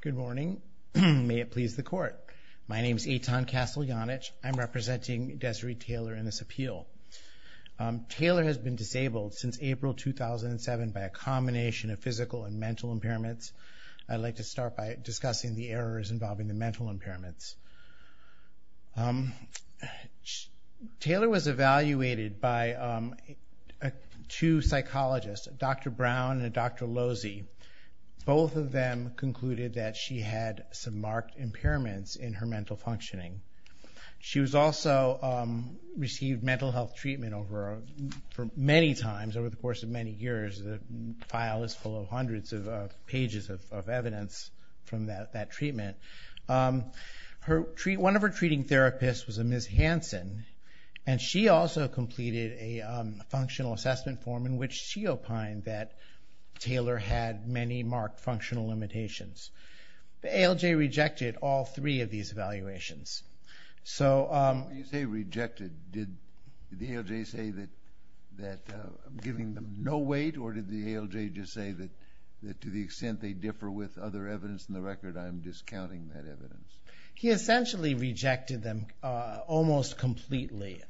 Good morning. May it please the court. My name is Eitan Kasteljanich. I'm representing Dezarie Taylor in this appeal. Taylor has been disabled since April 2007 by a combination of physical and mental impairments. I'd like to start by discussing the errors involving the mental impairments. Taylor was evaluated by two psychologists, Dr. Brown and Dr. Losey. Both of them concluded that she had some marked impairments in her mental functioning. She was also received mental health treatment for many times over the course of many years. The file is full of hundreds of pages of evidence from that treatment. One of her treating therapists was a Ms. Hansen, and she also completed a functional assessment form in which she opined that Taylor had many marked functional limitations. The ALJ rejected all three of these evaluations. When you say rejected, did the ALJ say that I'm giving them no weight, or did the ALJ just say that to the extent they differ with other evidence in the record, I'm discounting that evidence? He essentially rejected them almost completely.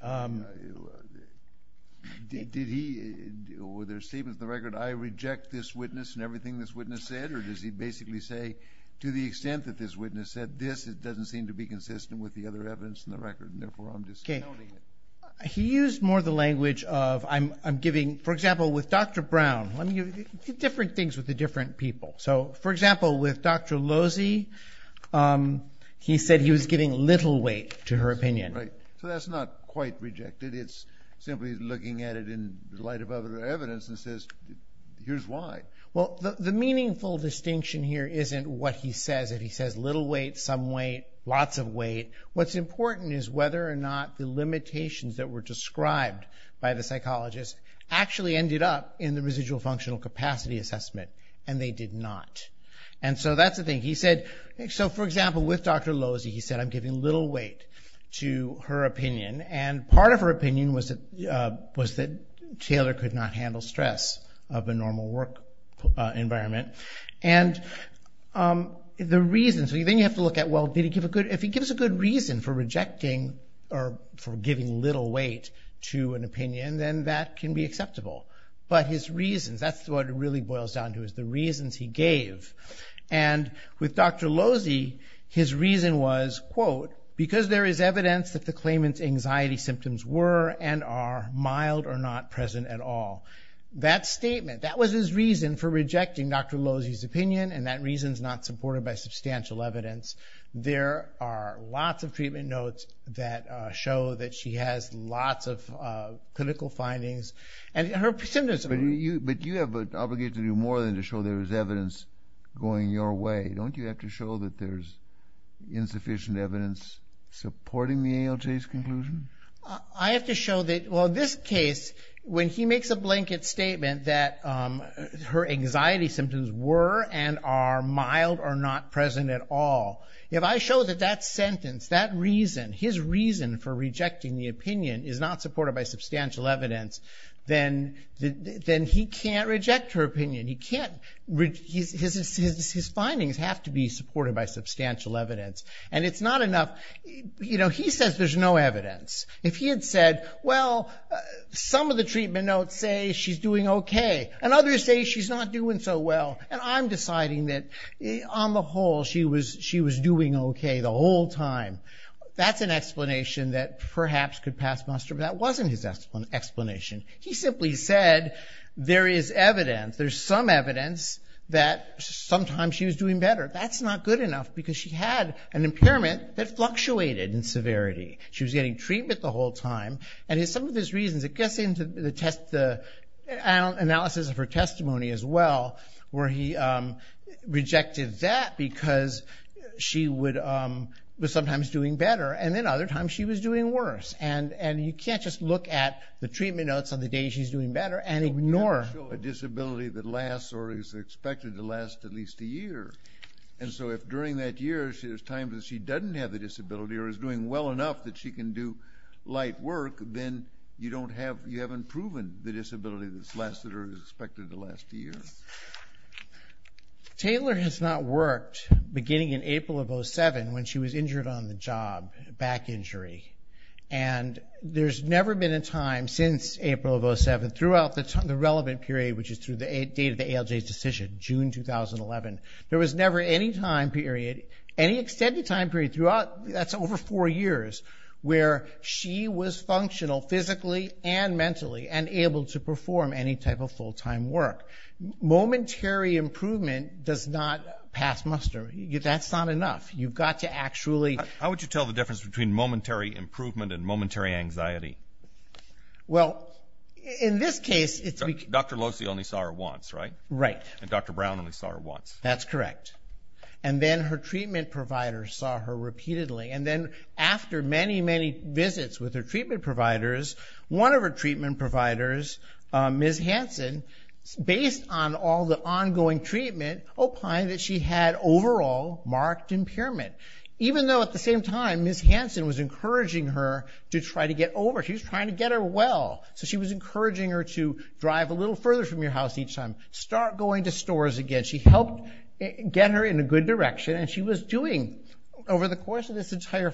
Did he, or were there statements in the record, I reject this witness and everything this witness said, or does he basically say to the extent that this witness said this, it doesn't seem to be consistent with the other evidence in the record, and therefore I'm discounting it? He used more the language of I'm giving, for example, with Dr. Brown, let me give you different things with the different people. So, for example, with Dr. Losey, he said he was giving little weight to her opinion. Right, so that's not quite rejected. It's simply looking at it in light of other evidence and says, here's why. Well, the meaningful distinction here isn't what he says. If he says little weight, some weight, lots of weight, what's important is whether or not the limitations that were described by the psychologist actually ended up in the residual functional capacity assessment, and they did not. And so that's the thing. So, for example, with Dr. Losey, he said I'm giving little weight to her opinion, and part of her opinion was that Taylor could not handle stress of a normal work environment, and the reason, so then you have to look at, well, did he give a good, if he gives a good reason for rejecting, or for giving little weight to an opinion, then that can be acceptable, but his reasons, that's what it really boils down to, is the reasons he gave, and with Dr. Losey, his reason was, quote, because there is evidence that the claimant's anxiety symptoms were and are mild or not present at all. That statement, that was his reason for rejecting Dr. Losey's opinion, and that reason is not supported by substantial evidence. There are lots of treatment notes that show that she has lots of clinical findings, and her symptoms... But you have an obligation to do more than to show there is evidence going your way. Don't you have to show that there's insufficient evidence supporting the ALJ's conclusion? I have to show that, well, in this case, when he makes a blanket statement that her anxiety symptoms were and are mild or not present at all, if I show that that sentence, that reason, his reason for rejecting the opinion, is not supported by substantial evidence, then he can't reject her opinion. He can't... His findings have to be supported by substantial evidence, and it's not enough... You know, he says there's no evidence. If he had said, well, some of the treatment notes say she's doing okay, and others say she's not doing so well, and I'm deciding that, on the whole, she was doing okay the whole time, that's an explanation that perhaps could pass muster, but that wasn't his explanation. He simply said, there is evidence, there's some evidence, that sometimes she was doing better. That's not good enough, because she had an impairment that fluctuated in severity. She was getting treatment the whole time, and some of his reasons, it gets into the analysis of her testimony as well, where he rejected that because she was sometimes doing better, and then other times she was doing worse, and you can't just look at the treatment notes on the day she's doing better, and ignore... A disability that lasts, or is expected to last at least a year, and so if during that year there's times that she doesn't have the disability, or is doing well enough that she can do light work, then you don't have, you haven't proven the disability that's lasted, or is expected to last a year. Taylor has not worked beginning in April of 07, when she was injured on the job, back injury, and there's never been a time since April of 07 throughout the relevant period, which is through the date of the ALJ's decision, June 2011. There was never any time period, any extended time period throughout, that's over four years, where she was functional, physically and mentally, and able to perform any type of full-time work. Momentary improvement does not pass muster. That's not enough. You've got to actually... anxiety. Well, in this case, it's... Dr. Losey only saw her once, right? Right. And Dr. Brown only saw her once. That's correct. And then her treatment providers saw her repeatedly, and then after many, many visits with her treatment providers, one of her treatment providers, Ms. Hansen, based on all the ongoing treatment, opined that she had overall marked impairment. Even though, at the same time, Ms. Hansen was encouraging her to try to get over. She was trying to get her well. So she was encouraging her to drive a little further from your house each time, start going to stores again. She helped get her in a good direction, and she was doing... over the course of this entire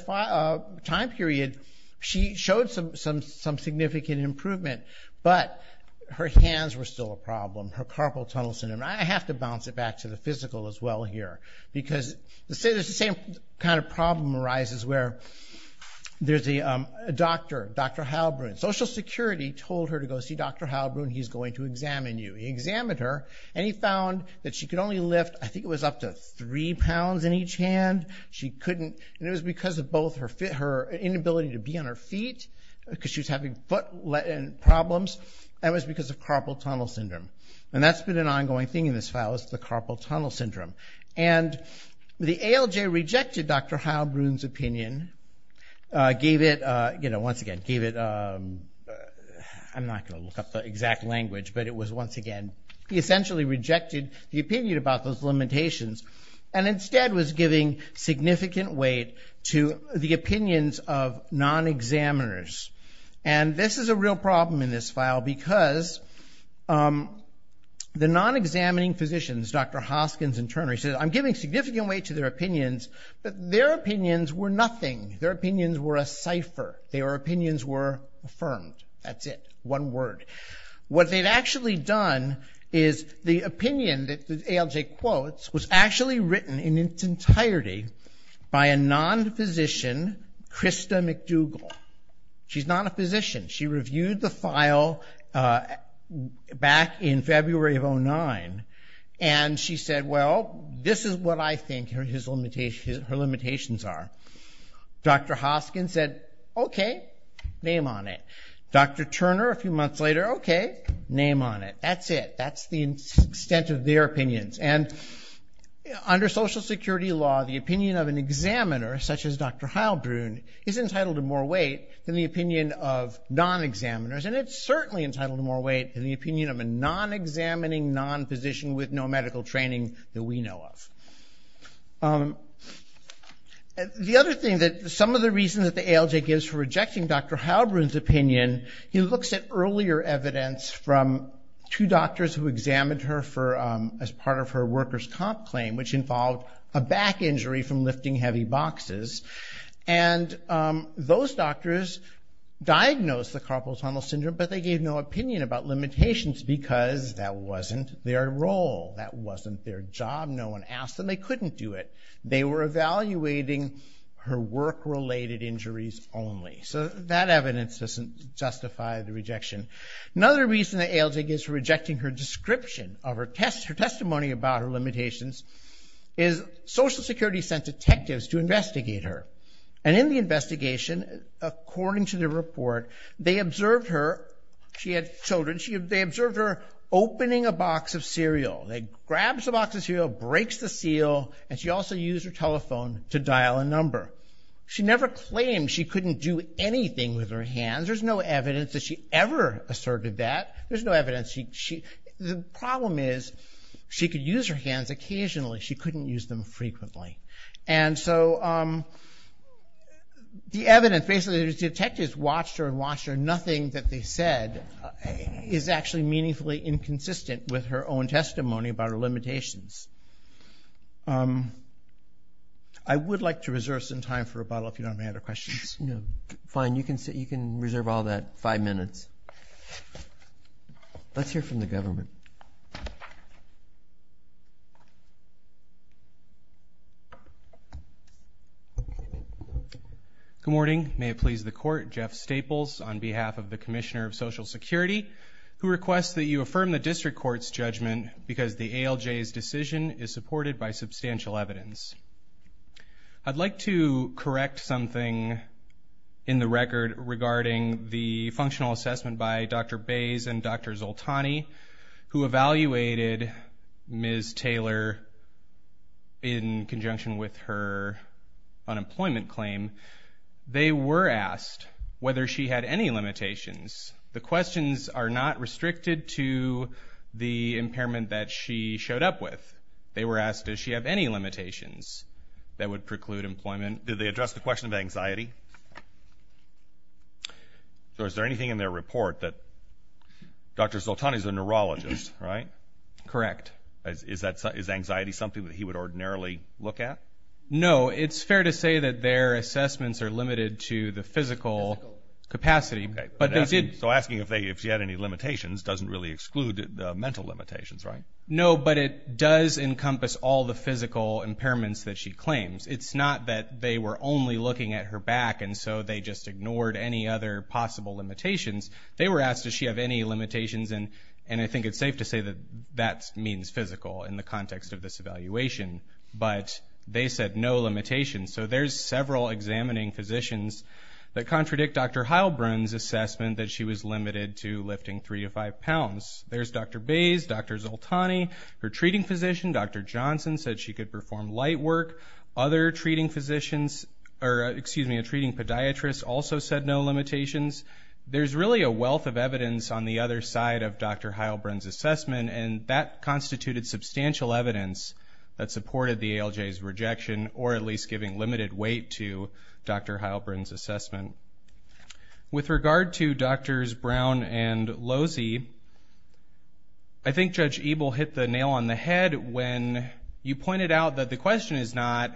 time period, she showed some significant improvement, but her hands were still a problem, her carpal tunnel syndrome. I have to bounce it back to the physical as well here, because the same kind of problem arises where there's a doctor, Dr. Halbrun. Social Security told her to go see Dr. Halbrun. He's going to examine you. He examined her, and he found that she could only lift, I think it was up to three pounds in each hand. She couldn't... and it was because of both her inability to be on her feet, because she was having foot problems, and it was because of carpal tunnel syndrome. And that's been an ongoing thing in this file, is the carpal tunnel syndrome. The ALJ rejected Dr. Halbrun's opinion, gave it, you know, once again, gave it... I'm not going to look up the exact language, but it was, once again, he essentially rejected the opinion about those limitations, and instead was giving significant weight to the opinions of non-examiners. And this is a real problem in this file, because the non-examining physicians, Dr. Hoskins and Turner, he said, I'm giving significant weight to their opinions, but their opinions were nothing. Their opinions were a cipher. Their opinions were affirmed. That's it. One word. What they'd actually done is, the opinion that the ALJ quotes was actually written in its entirety by a non-physician, Krista McDougall. She's not a physician. She reviewed the file back in February of 2009, and she said, well, this is what I think her limitations are. Dr. Hoskins said, okay, name on it. Dr. Turner, a few months later, okay, name on it. That's it. That's the extent of their opinions. And under Social Security law, the opinion of an examiner, such as Dr. Heilbrun, is entitled to more weight than the opinion of non-examiners, and it's certainly entitled to more weight than the opinion of a non-examining, non-physician with no medical training that we know of. The other thing that some of the reasons that the ALJ gives for rejecting Dr. Heilbrun's opinion, he looks at earlier evidence from two doctors who examined her as part of her workers' comp claim, which involved a back injury from lifting heavy boxes, and those doctors diagnosed the carpal tunnel syndrome, but they gave no opinion about limitations because that wasn't their role. That wasn't their job. No one asked them. They couldn't do it. They were evaluating her work-related injuries only. So that evidence doesn't justify the rejection. Another reason that ALJ gives for rejecting her description of her testimony about her limitations is Social Security sent detectives to investigate her, and in the investigation, according to the report, they observed her. She had children. They observed her opening a box of cereal. They grabbed the box of cereal, breaks the seal, and she also used her telephone to dial a number. She never claimed she couldn't do anything with her hands. There's no evidence that she ever asserted that. There's no evidence. The problem is she could use her hands occasionally. She couldn't use them frequently, and so the evidence, basically, the detectives watched her and watched her. Nothing that they said is actually meaningfully inconsistent with her own testimony about her limitations. I would like to reserve some time for rebuttal if you don't have any other questions. Fine. You can sit. You can reserve all that five minutes. Let's hear from the government. Good morning. May it please the court. Jeff Staples on behalf of the Commissioner of Social Security who requests that you affirm the District Court's judgment because the ALJ's decision is supported by substantial evidence. I'd like to correct something in the record regarding the functional assessment by Dr. Bays and Dr. Zoltani who evaluated Ms. Taylor in conjunction with her unemployment claim. They were asked whether she had any limitations. The questions are not restricted to the impairment that she showed up with. They were asked, does she have any limitations that would preclude employment? Did they address the question of anxiety? So is there anything in their report that Dr. Zoltani's a neurologist, right? Correct. Is anxiety something that he would ordinarily look at? No. It's fair to say that their assessments are limited to the physical capacity. So asking if she had any limitations doesn't really exclude the mental limitations, right? No, but it does encompass all the physical impairments that she claims. It's not that they were only looking at her back and so they just ignored any other possible limitations. They were asked, does she have any limitations? And I think it's safe to say that that means physical in the context of this evaluation, but they said no limitations. So there's several examining physicians that contradict Dr. Heilbrunn's assessment that she was limited to lifting three to five pounds. There's Dr. Bayes, Dr. Zoltani, her treating physician, Dr. Johnson, said she could perform light work. Other treating physicians, or excuse me, a treating podiatrist also said no limitations. There's really a wealth of evidence on the other side of Dr. Heilbrunn's assessment and that limited weight to Dr. Heilbrunn's assessment. With regard to Drs. Brown and Losey, I think Judge Ebel hit the nail on the head when you pointed out that the question is not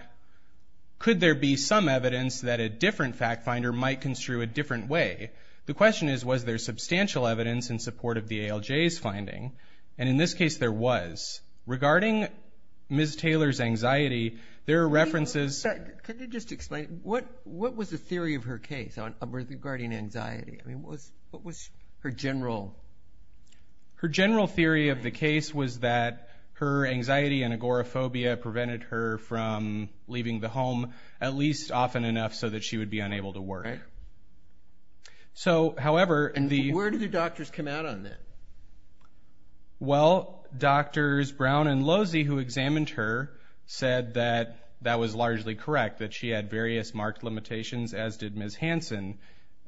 could there be some evidence that a different fact finder might construe a different way? The question is, was there substantial evidence in support of the ALJ's finding? And in this case there was. Regarding Ms. Taylor's anxiety, there are references... Could you just explain, what was the theory of her case regarding anxiety? I mean, what was her general... Her general theory of the case was that her anxiety and agoraphobia prevented her from leaving the home at least often enough so that she would be unable to work. So, however... And where did the doctors come out on that? Well, Drs. Brown and Losey who examined her said that that was largely correct, that she had various marked limitations, as did Ms. Hansen.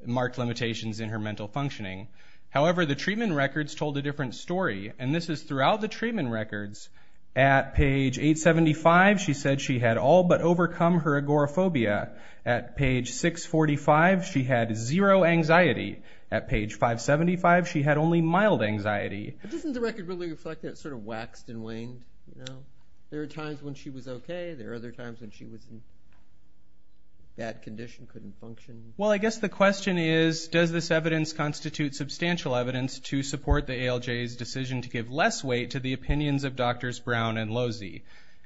Marked limitations in her mental functioning. However, the treatment records told a different story, and this is throughout the treatment records. At page 875, she said she had all but overcome her agoraphobia. At page 645, she had zero anxiety. At page 575, she had only mild anxiety. But doesn't the record really reflect that it sort of waxed and waned, you know? There were times when she was okay. There were other times when she was in bad condition, couldn't function. Well, I guess the question is, does this evidence constitute substantial evidence to support the ALJ's decision to give less weight to the opinions of Drs. Brown and Losey?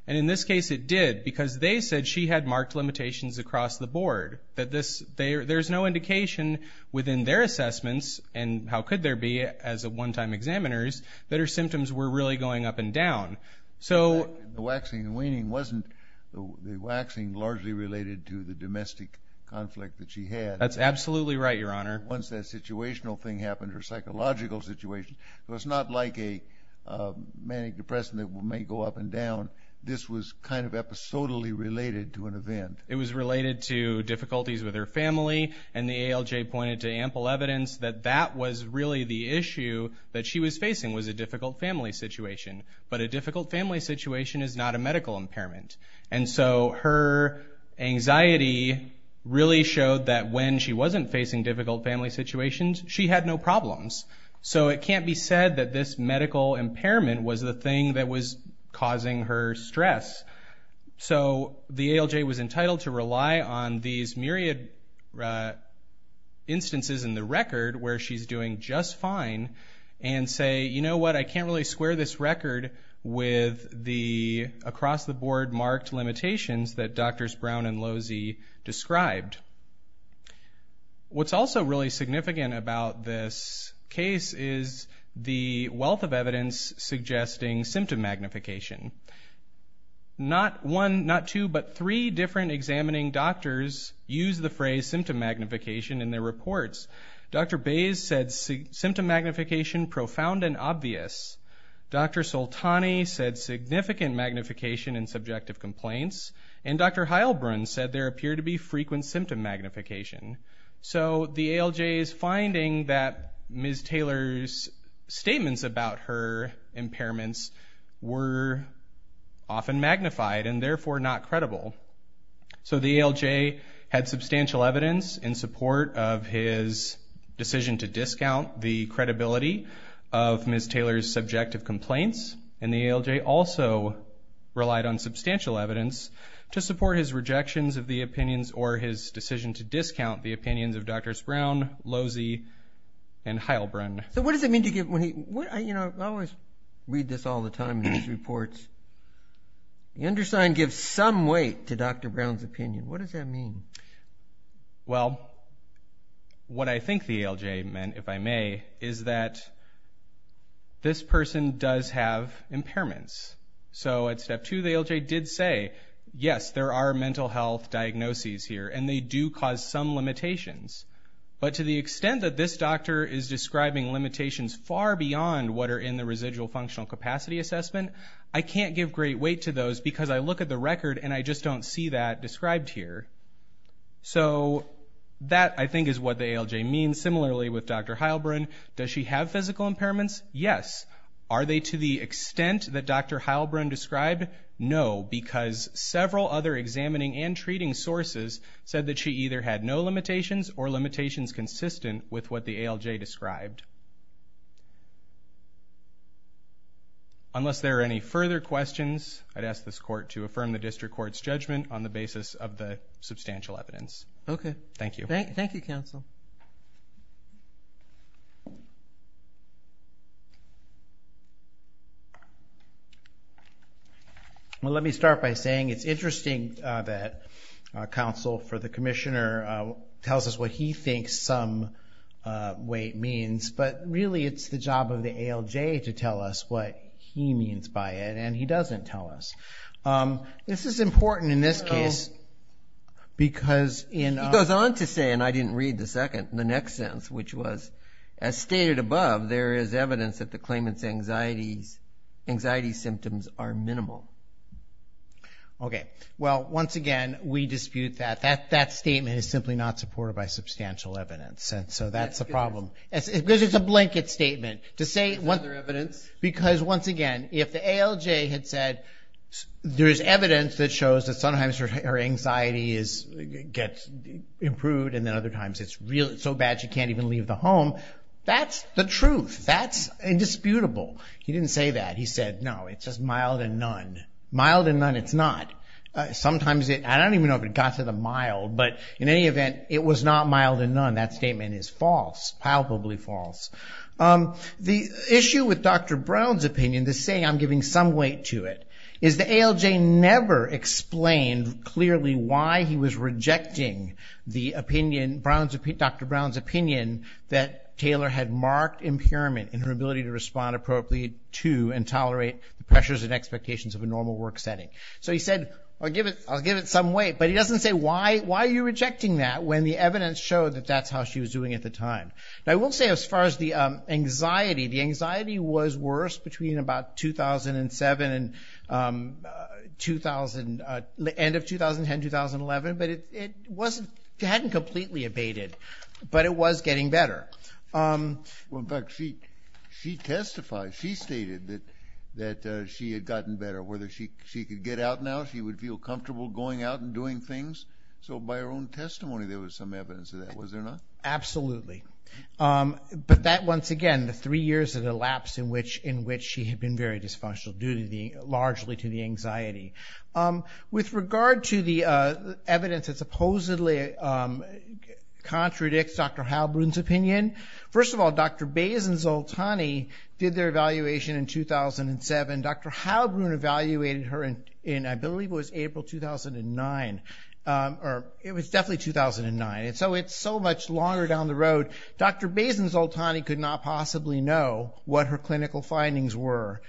And in this case it did, because they said she had marked limitations across the board. That there's no indication within their assessments, and how could there be as a one-time examiner's, that her symptoms were really going up and down. The waxing and waning wasn't the waxing largely related to the domestic conflict that she had. That's absolutely right, Your Honor. Once that situational thing happened, her psychological situation, it was not like a manic depression that may go up and down. This was kind of episodically related to an event. It was related to difficulties with her family, and the ALJ pointed to ample evidence that that was really the issue that she was facing, was a difficult family situation. But a difficult family situation is not a medical impairment. And so her anxiety really showed that when she wasn't facing difficult family situations, she had no problems. So it can't be said that this medical impairment was the thing that was causing her stress. So the ALJ was entitled to rely on these myriad instances in the record where she's doing just fine, and say, you know what, I can't really square this record with the across-the-board marked limitations that Drs. Brown and Lozzi described. What's also really significant about this case is the wealth of evidence suggesting symptom magnification. Not one, not two, but three different examining doctors use the phrase symptom magnification in their reports. Dr. Bayes said symptom magnification profound and obvious. Dr. Soltani said significant magnification in subjective complaints. And Dr. Heilbrunn said there appeared to be frequent symptom magnification. So the ALJ's finding that Ms. Taylor's statements about her impairments were often magnified and therefore not credible. So the ALJ had substantial evidence in support of his decision to discount the credibility of Ms. Taylor's subjective complaints. And the ALJ also relied on substantial evidence to support his rejections of the opinions or his decision to discount the opinions of Drs. Brown, Lozzi, and Heilbrunn. So what does it mean to give, when he, you know, I always read this all the time in these reports. The undersigned gives some weight to Dr. Brown's opinion. What does that mean? Well, what I think the ALJ meant, if I may, is that this person does have impairments. So at step two, the ALJ did say, yes, there are mental health diagnoses here and they do cause some limitations. But to the extent that this doctor is describing limitations far beyond what are in the residual functional capacity assessment, I can't give great weight to those because I look at the record and I just don't see that described here. So that, I think, is what the ALJ means. Similarly with Dr. Heilbrunn, does she have physical impairments? Yes. Are they to the extent that Dr. Heilbrunn described? No, because several other examining and treating sources said that she either had no limitations or limitations consistent with what the ALJ described. Unless there are any further questions, I'd ask this court to affirm the district court's judgment on the basis of the substantial evidence. Okay. Thank you. Thank you, counsel. Well, let me start by saying it's interesting that counsel for the commissioner tells us what he thinks some weight means. But really, it's the job of the ALJ to tell us what he means by it, and he doesn't tell us. This is important in this case because in... He goes on to say, and I didn't read the second, the next sentence, which was, as stated above, there is evidence that the claimant's anxiety symptoms are minimal. Okay. Well, once again, we dispute that. That statement is simply not supported by substantial evidence. And so that's a problem. Because it's a blanket statement to say... It's further evidence. Because once again, if the ALJ had said there is evidence that shows that sometimes her anxiety gets improved and then other times it's so bad she can't even leave the home, that's the truth. That's indisputable. He didn't say that. He said, no, it's just mild and none. Mild and none, it's not. Sometimes it... I don't even know if it got to the mild, but in any event, it was not mild and none. That statement is false. Palpably false. The issue with Dr. Brown's opinion, the saying, I'm giving some weight to it, is the ALJ never explained clearly why he was rejecting the opinion, Dr. Brown's opinion, that Taylor had marked impairment in her ability to respond appropriately to and tolerate the pressures and expectations of a normal work setting. So he said, I'll give it some weight. But he doesn't say, why are you rejecting that when the evidence showed that that's how she was doing at the time? Now, I won't say as far as the anxiety. The anxiety was worse between about 2007 and end of 2010, 2011. But it hadn't completely abated, but it was getting better. Well, in fact, she testified. She stated that she had gotten better, whether she could get out now, she would feel comfortable going out and doing things. So by her own testimony, there was some evidence of that, was there not? Absolutely. But that, once again, the three years that elapsed in which she had been very dysfunctional, due largely to the anxiety. With regard to the evidence that supposedly contradicts Dr. Halbrun's opinion, first of all, Dr. Bays and Zoltani did their evaluation in 2007. Dr. Halbrun evaluated her in, I believe it was April 2009. It was definitely 2009. So it's so much longer down the road. Dr. Bays and Zoltani could not possibly know what her clinical findings were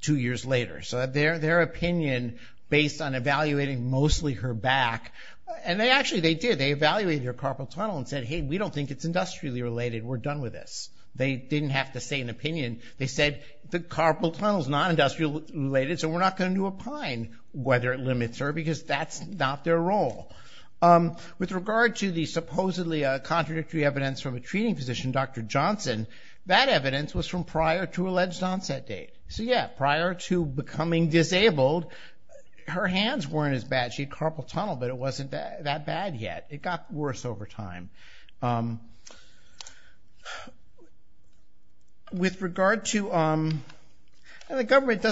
two years later. So their opinion, based on evaluating mostly her back, and actually they did. They evaluated her carpal tunnel and said, hey, we don't think it's industrially related. We're done with this. They didn't have to say an opinion. They said the carpal tunnel is not industrially related, so we're not going to opine whether it limits her because that's not their role. With regard to the supposedly contradictory evidence from a treating physician, Dr. Johnson, that evidence was from prior to alleged onset date. So yeah, prior to becoming disabled, her hands weren't as bad. She had carpal tunnel, but it wasn't that bad yet. It got worse over time. With regard to... The government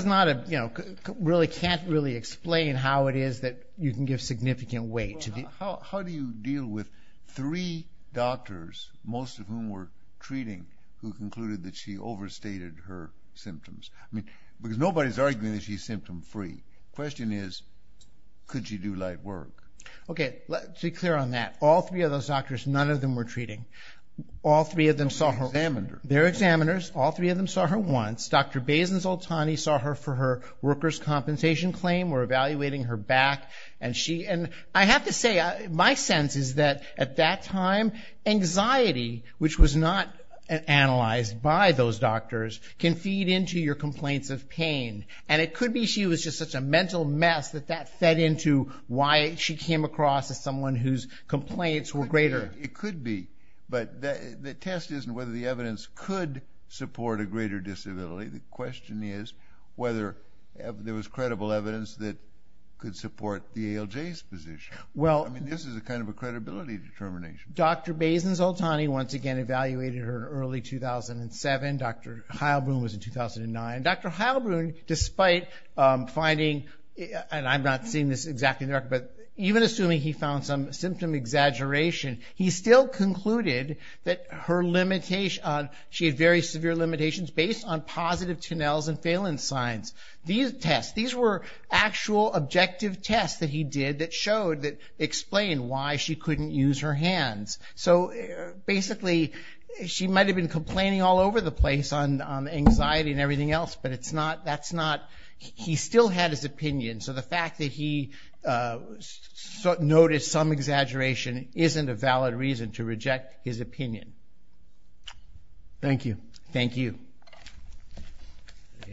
can't really explain how it is that you can give significant weight. How do you deal with three doctors, most of whom were treating, who concluded that she overstated her symptoms? I mean, because nobody's arguing that she's symptom-free. Question is, could she do light work? Okay, let's be clear on that. All three of those doctors, none of them were treating. All three of them saw her... They're examiners. They're examiners. All three of them saw her once. Dr. Bays and Zoltani saw her for her worker's compensation claim, were evaluating her back, and she... I have to say, my sense is that at that time, anxiety, which was not analyzed by those doctors, can feed into your complaints of pain. And it could be she was just such a mental mess that that fed into why she came across as someone whose complaints were greater. It could be, but the test isn't whether the evidence could support a greater disability. The question is whether there was credible evidence that could support the ALJ's position. Well... I mean, this is a kind of a credibility determination. Dr. Bays and Zoltani once again evaluated her in early 2007. Dr. Heilbrunn was in 2009. Dr. Heilbrunn, despite finding... And I'm not seeing this exactly in the record, but even assuming he found some symptom exaggeration, he still concluded that her limitation... She had very severe limitations based on positive TNLs and phalanx signs. These tests, these were actual objective tests that he did that showed, that explained why she couldn't use her hands. So basically, she might have been complaining all over the place on anxiety and everything else, but it's not... That's not... He still had his opinion. So the fact that he noticed some exaggeration isn't a valid reason to reject his opinion. Thank you. Thank you.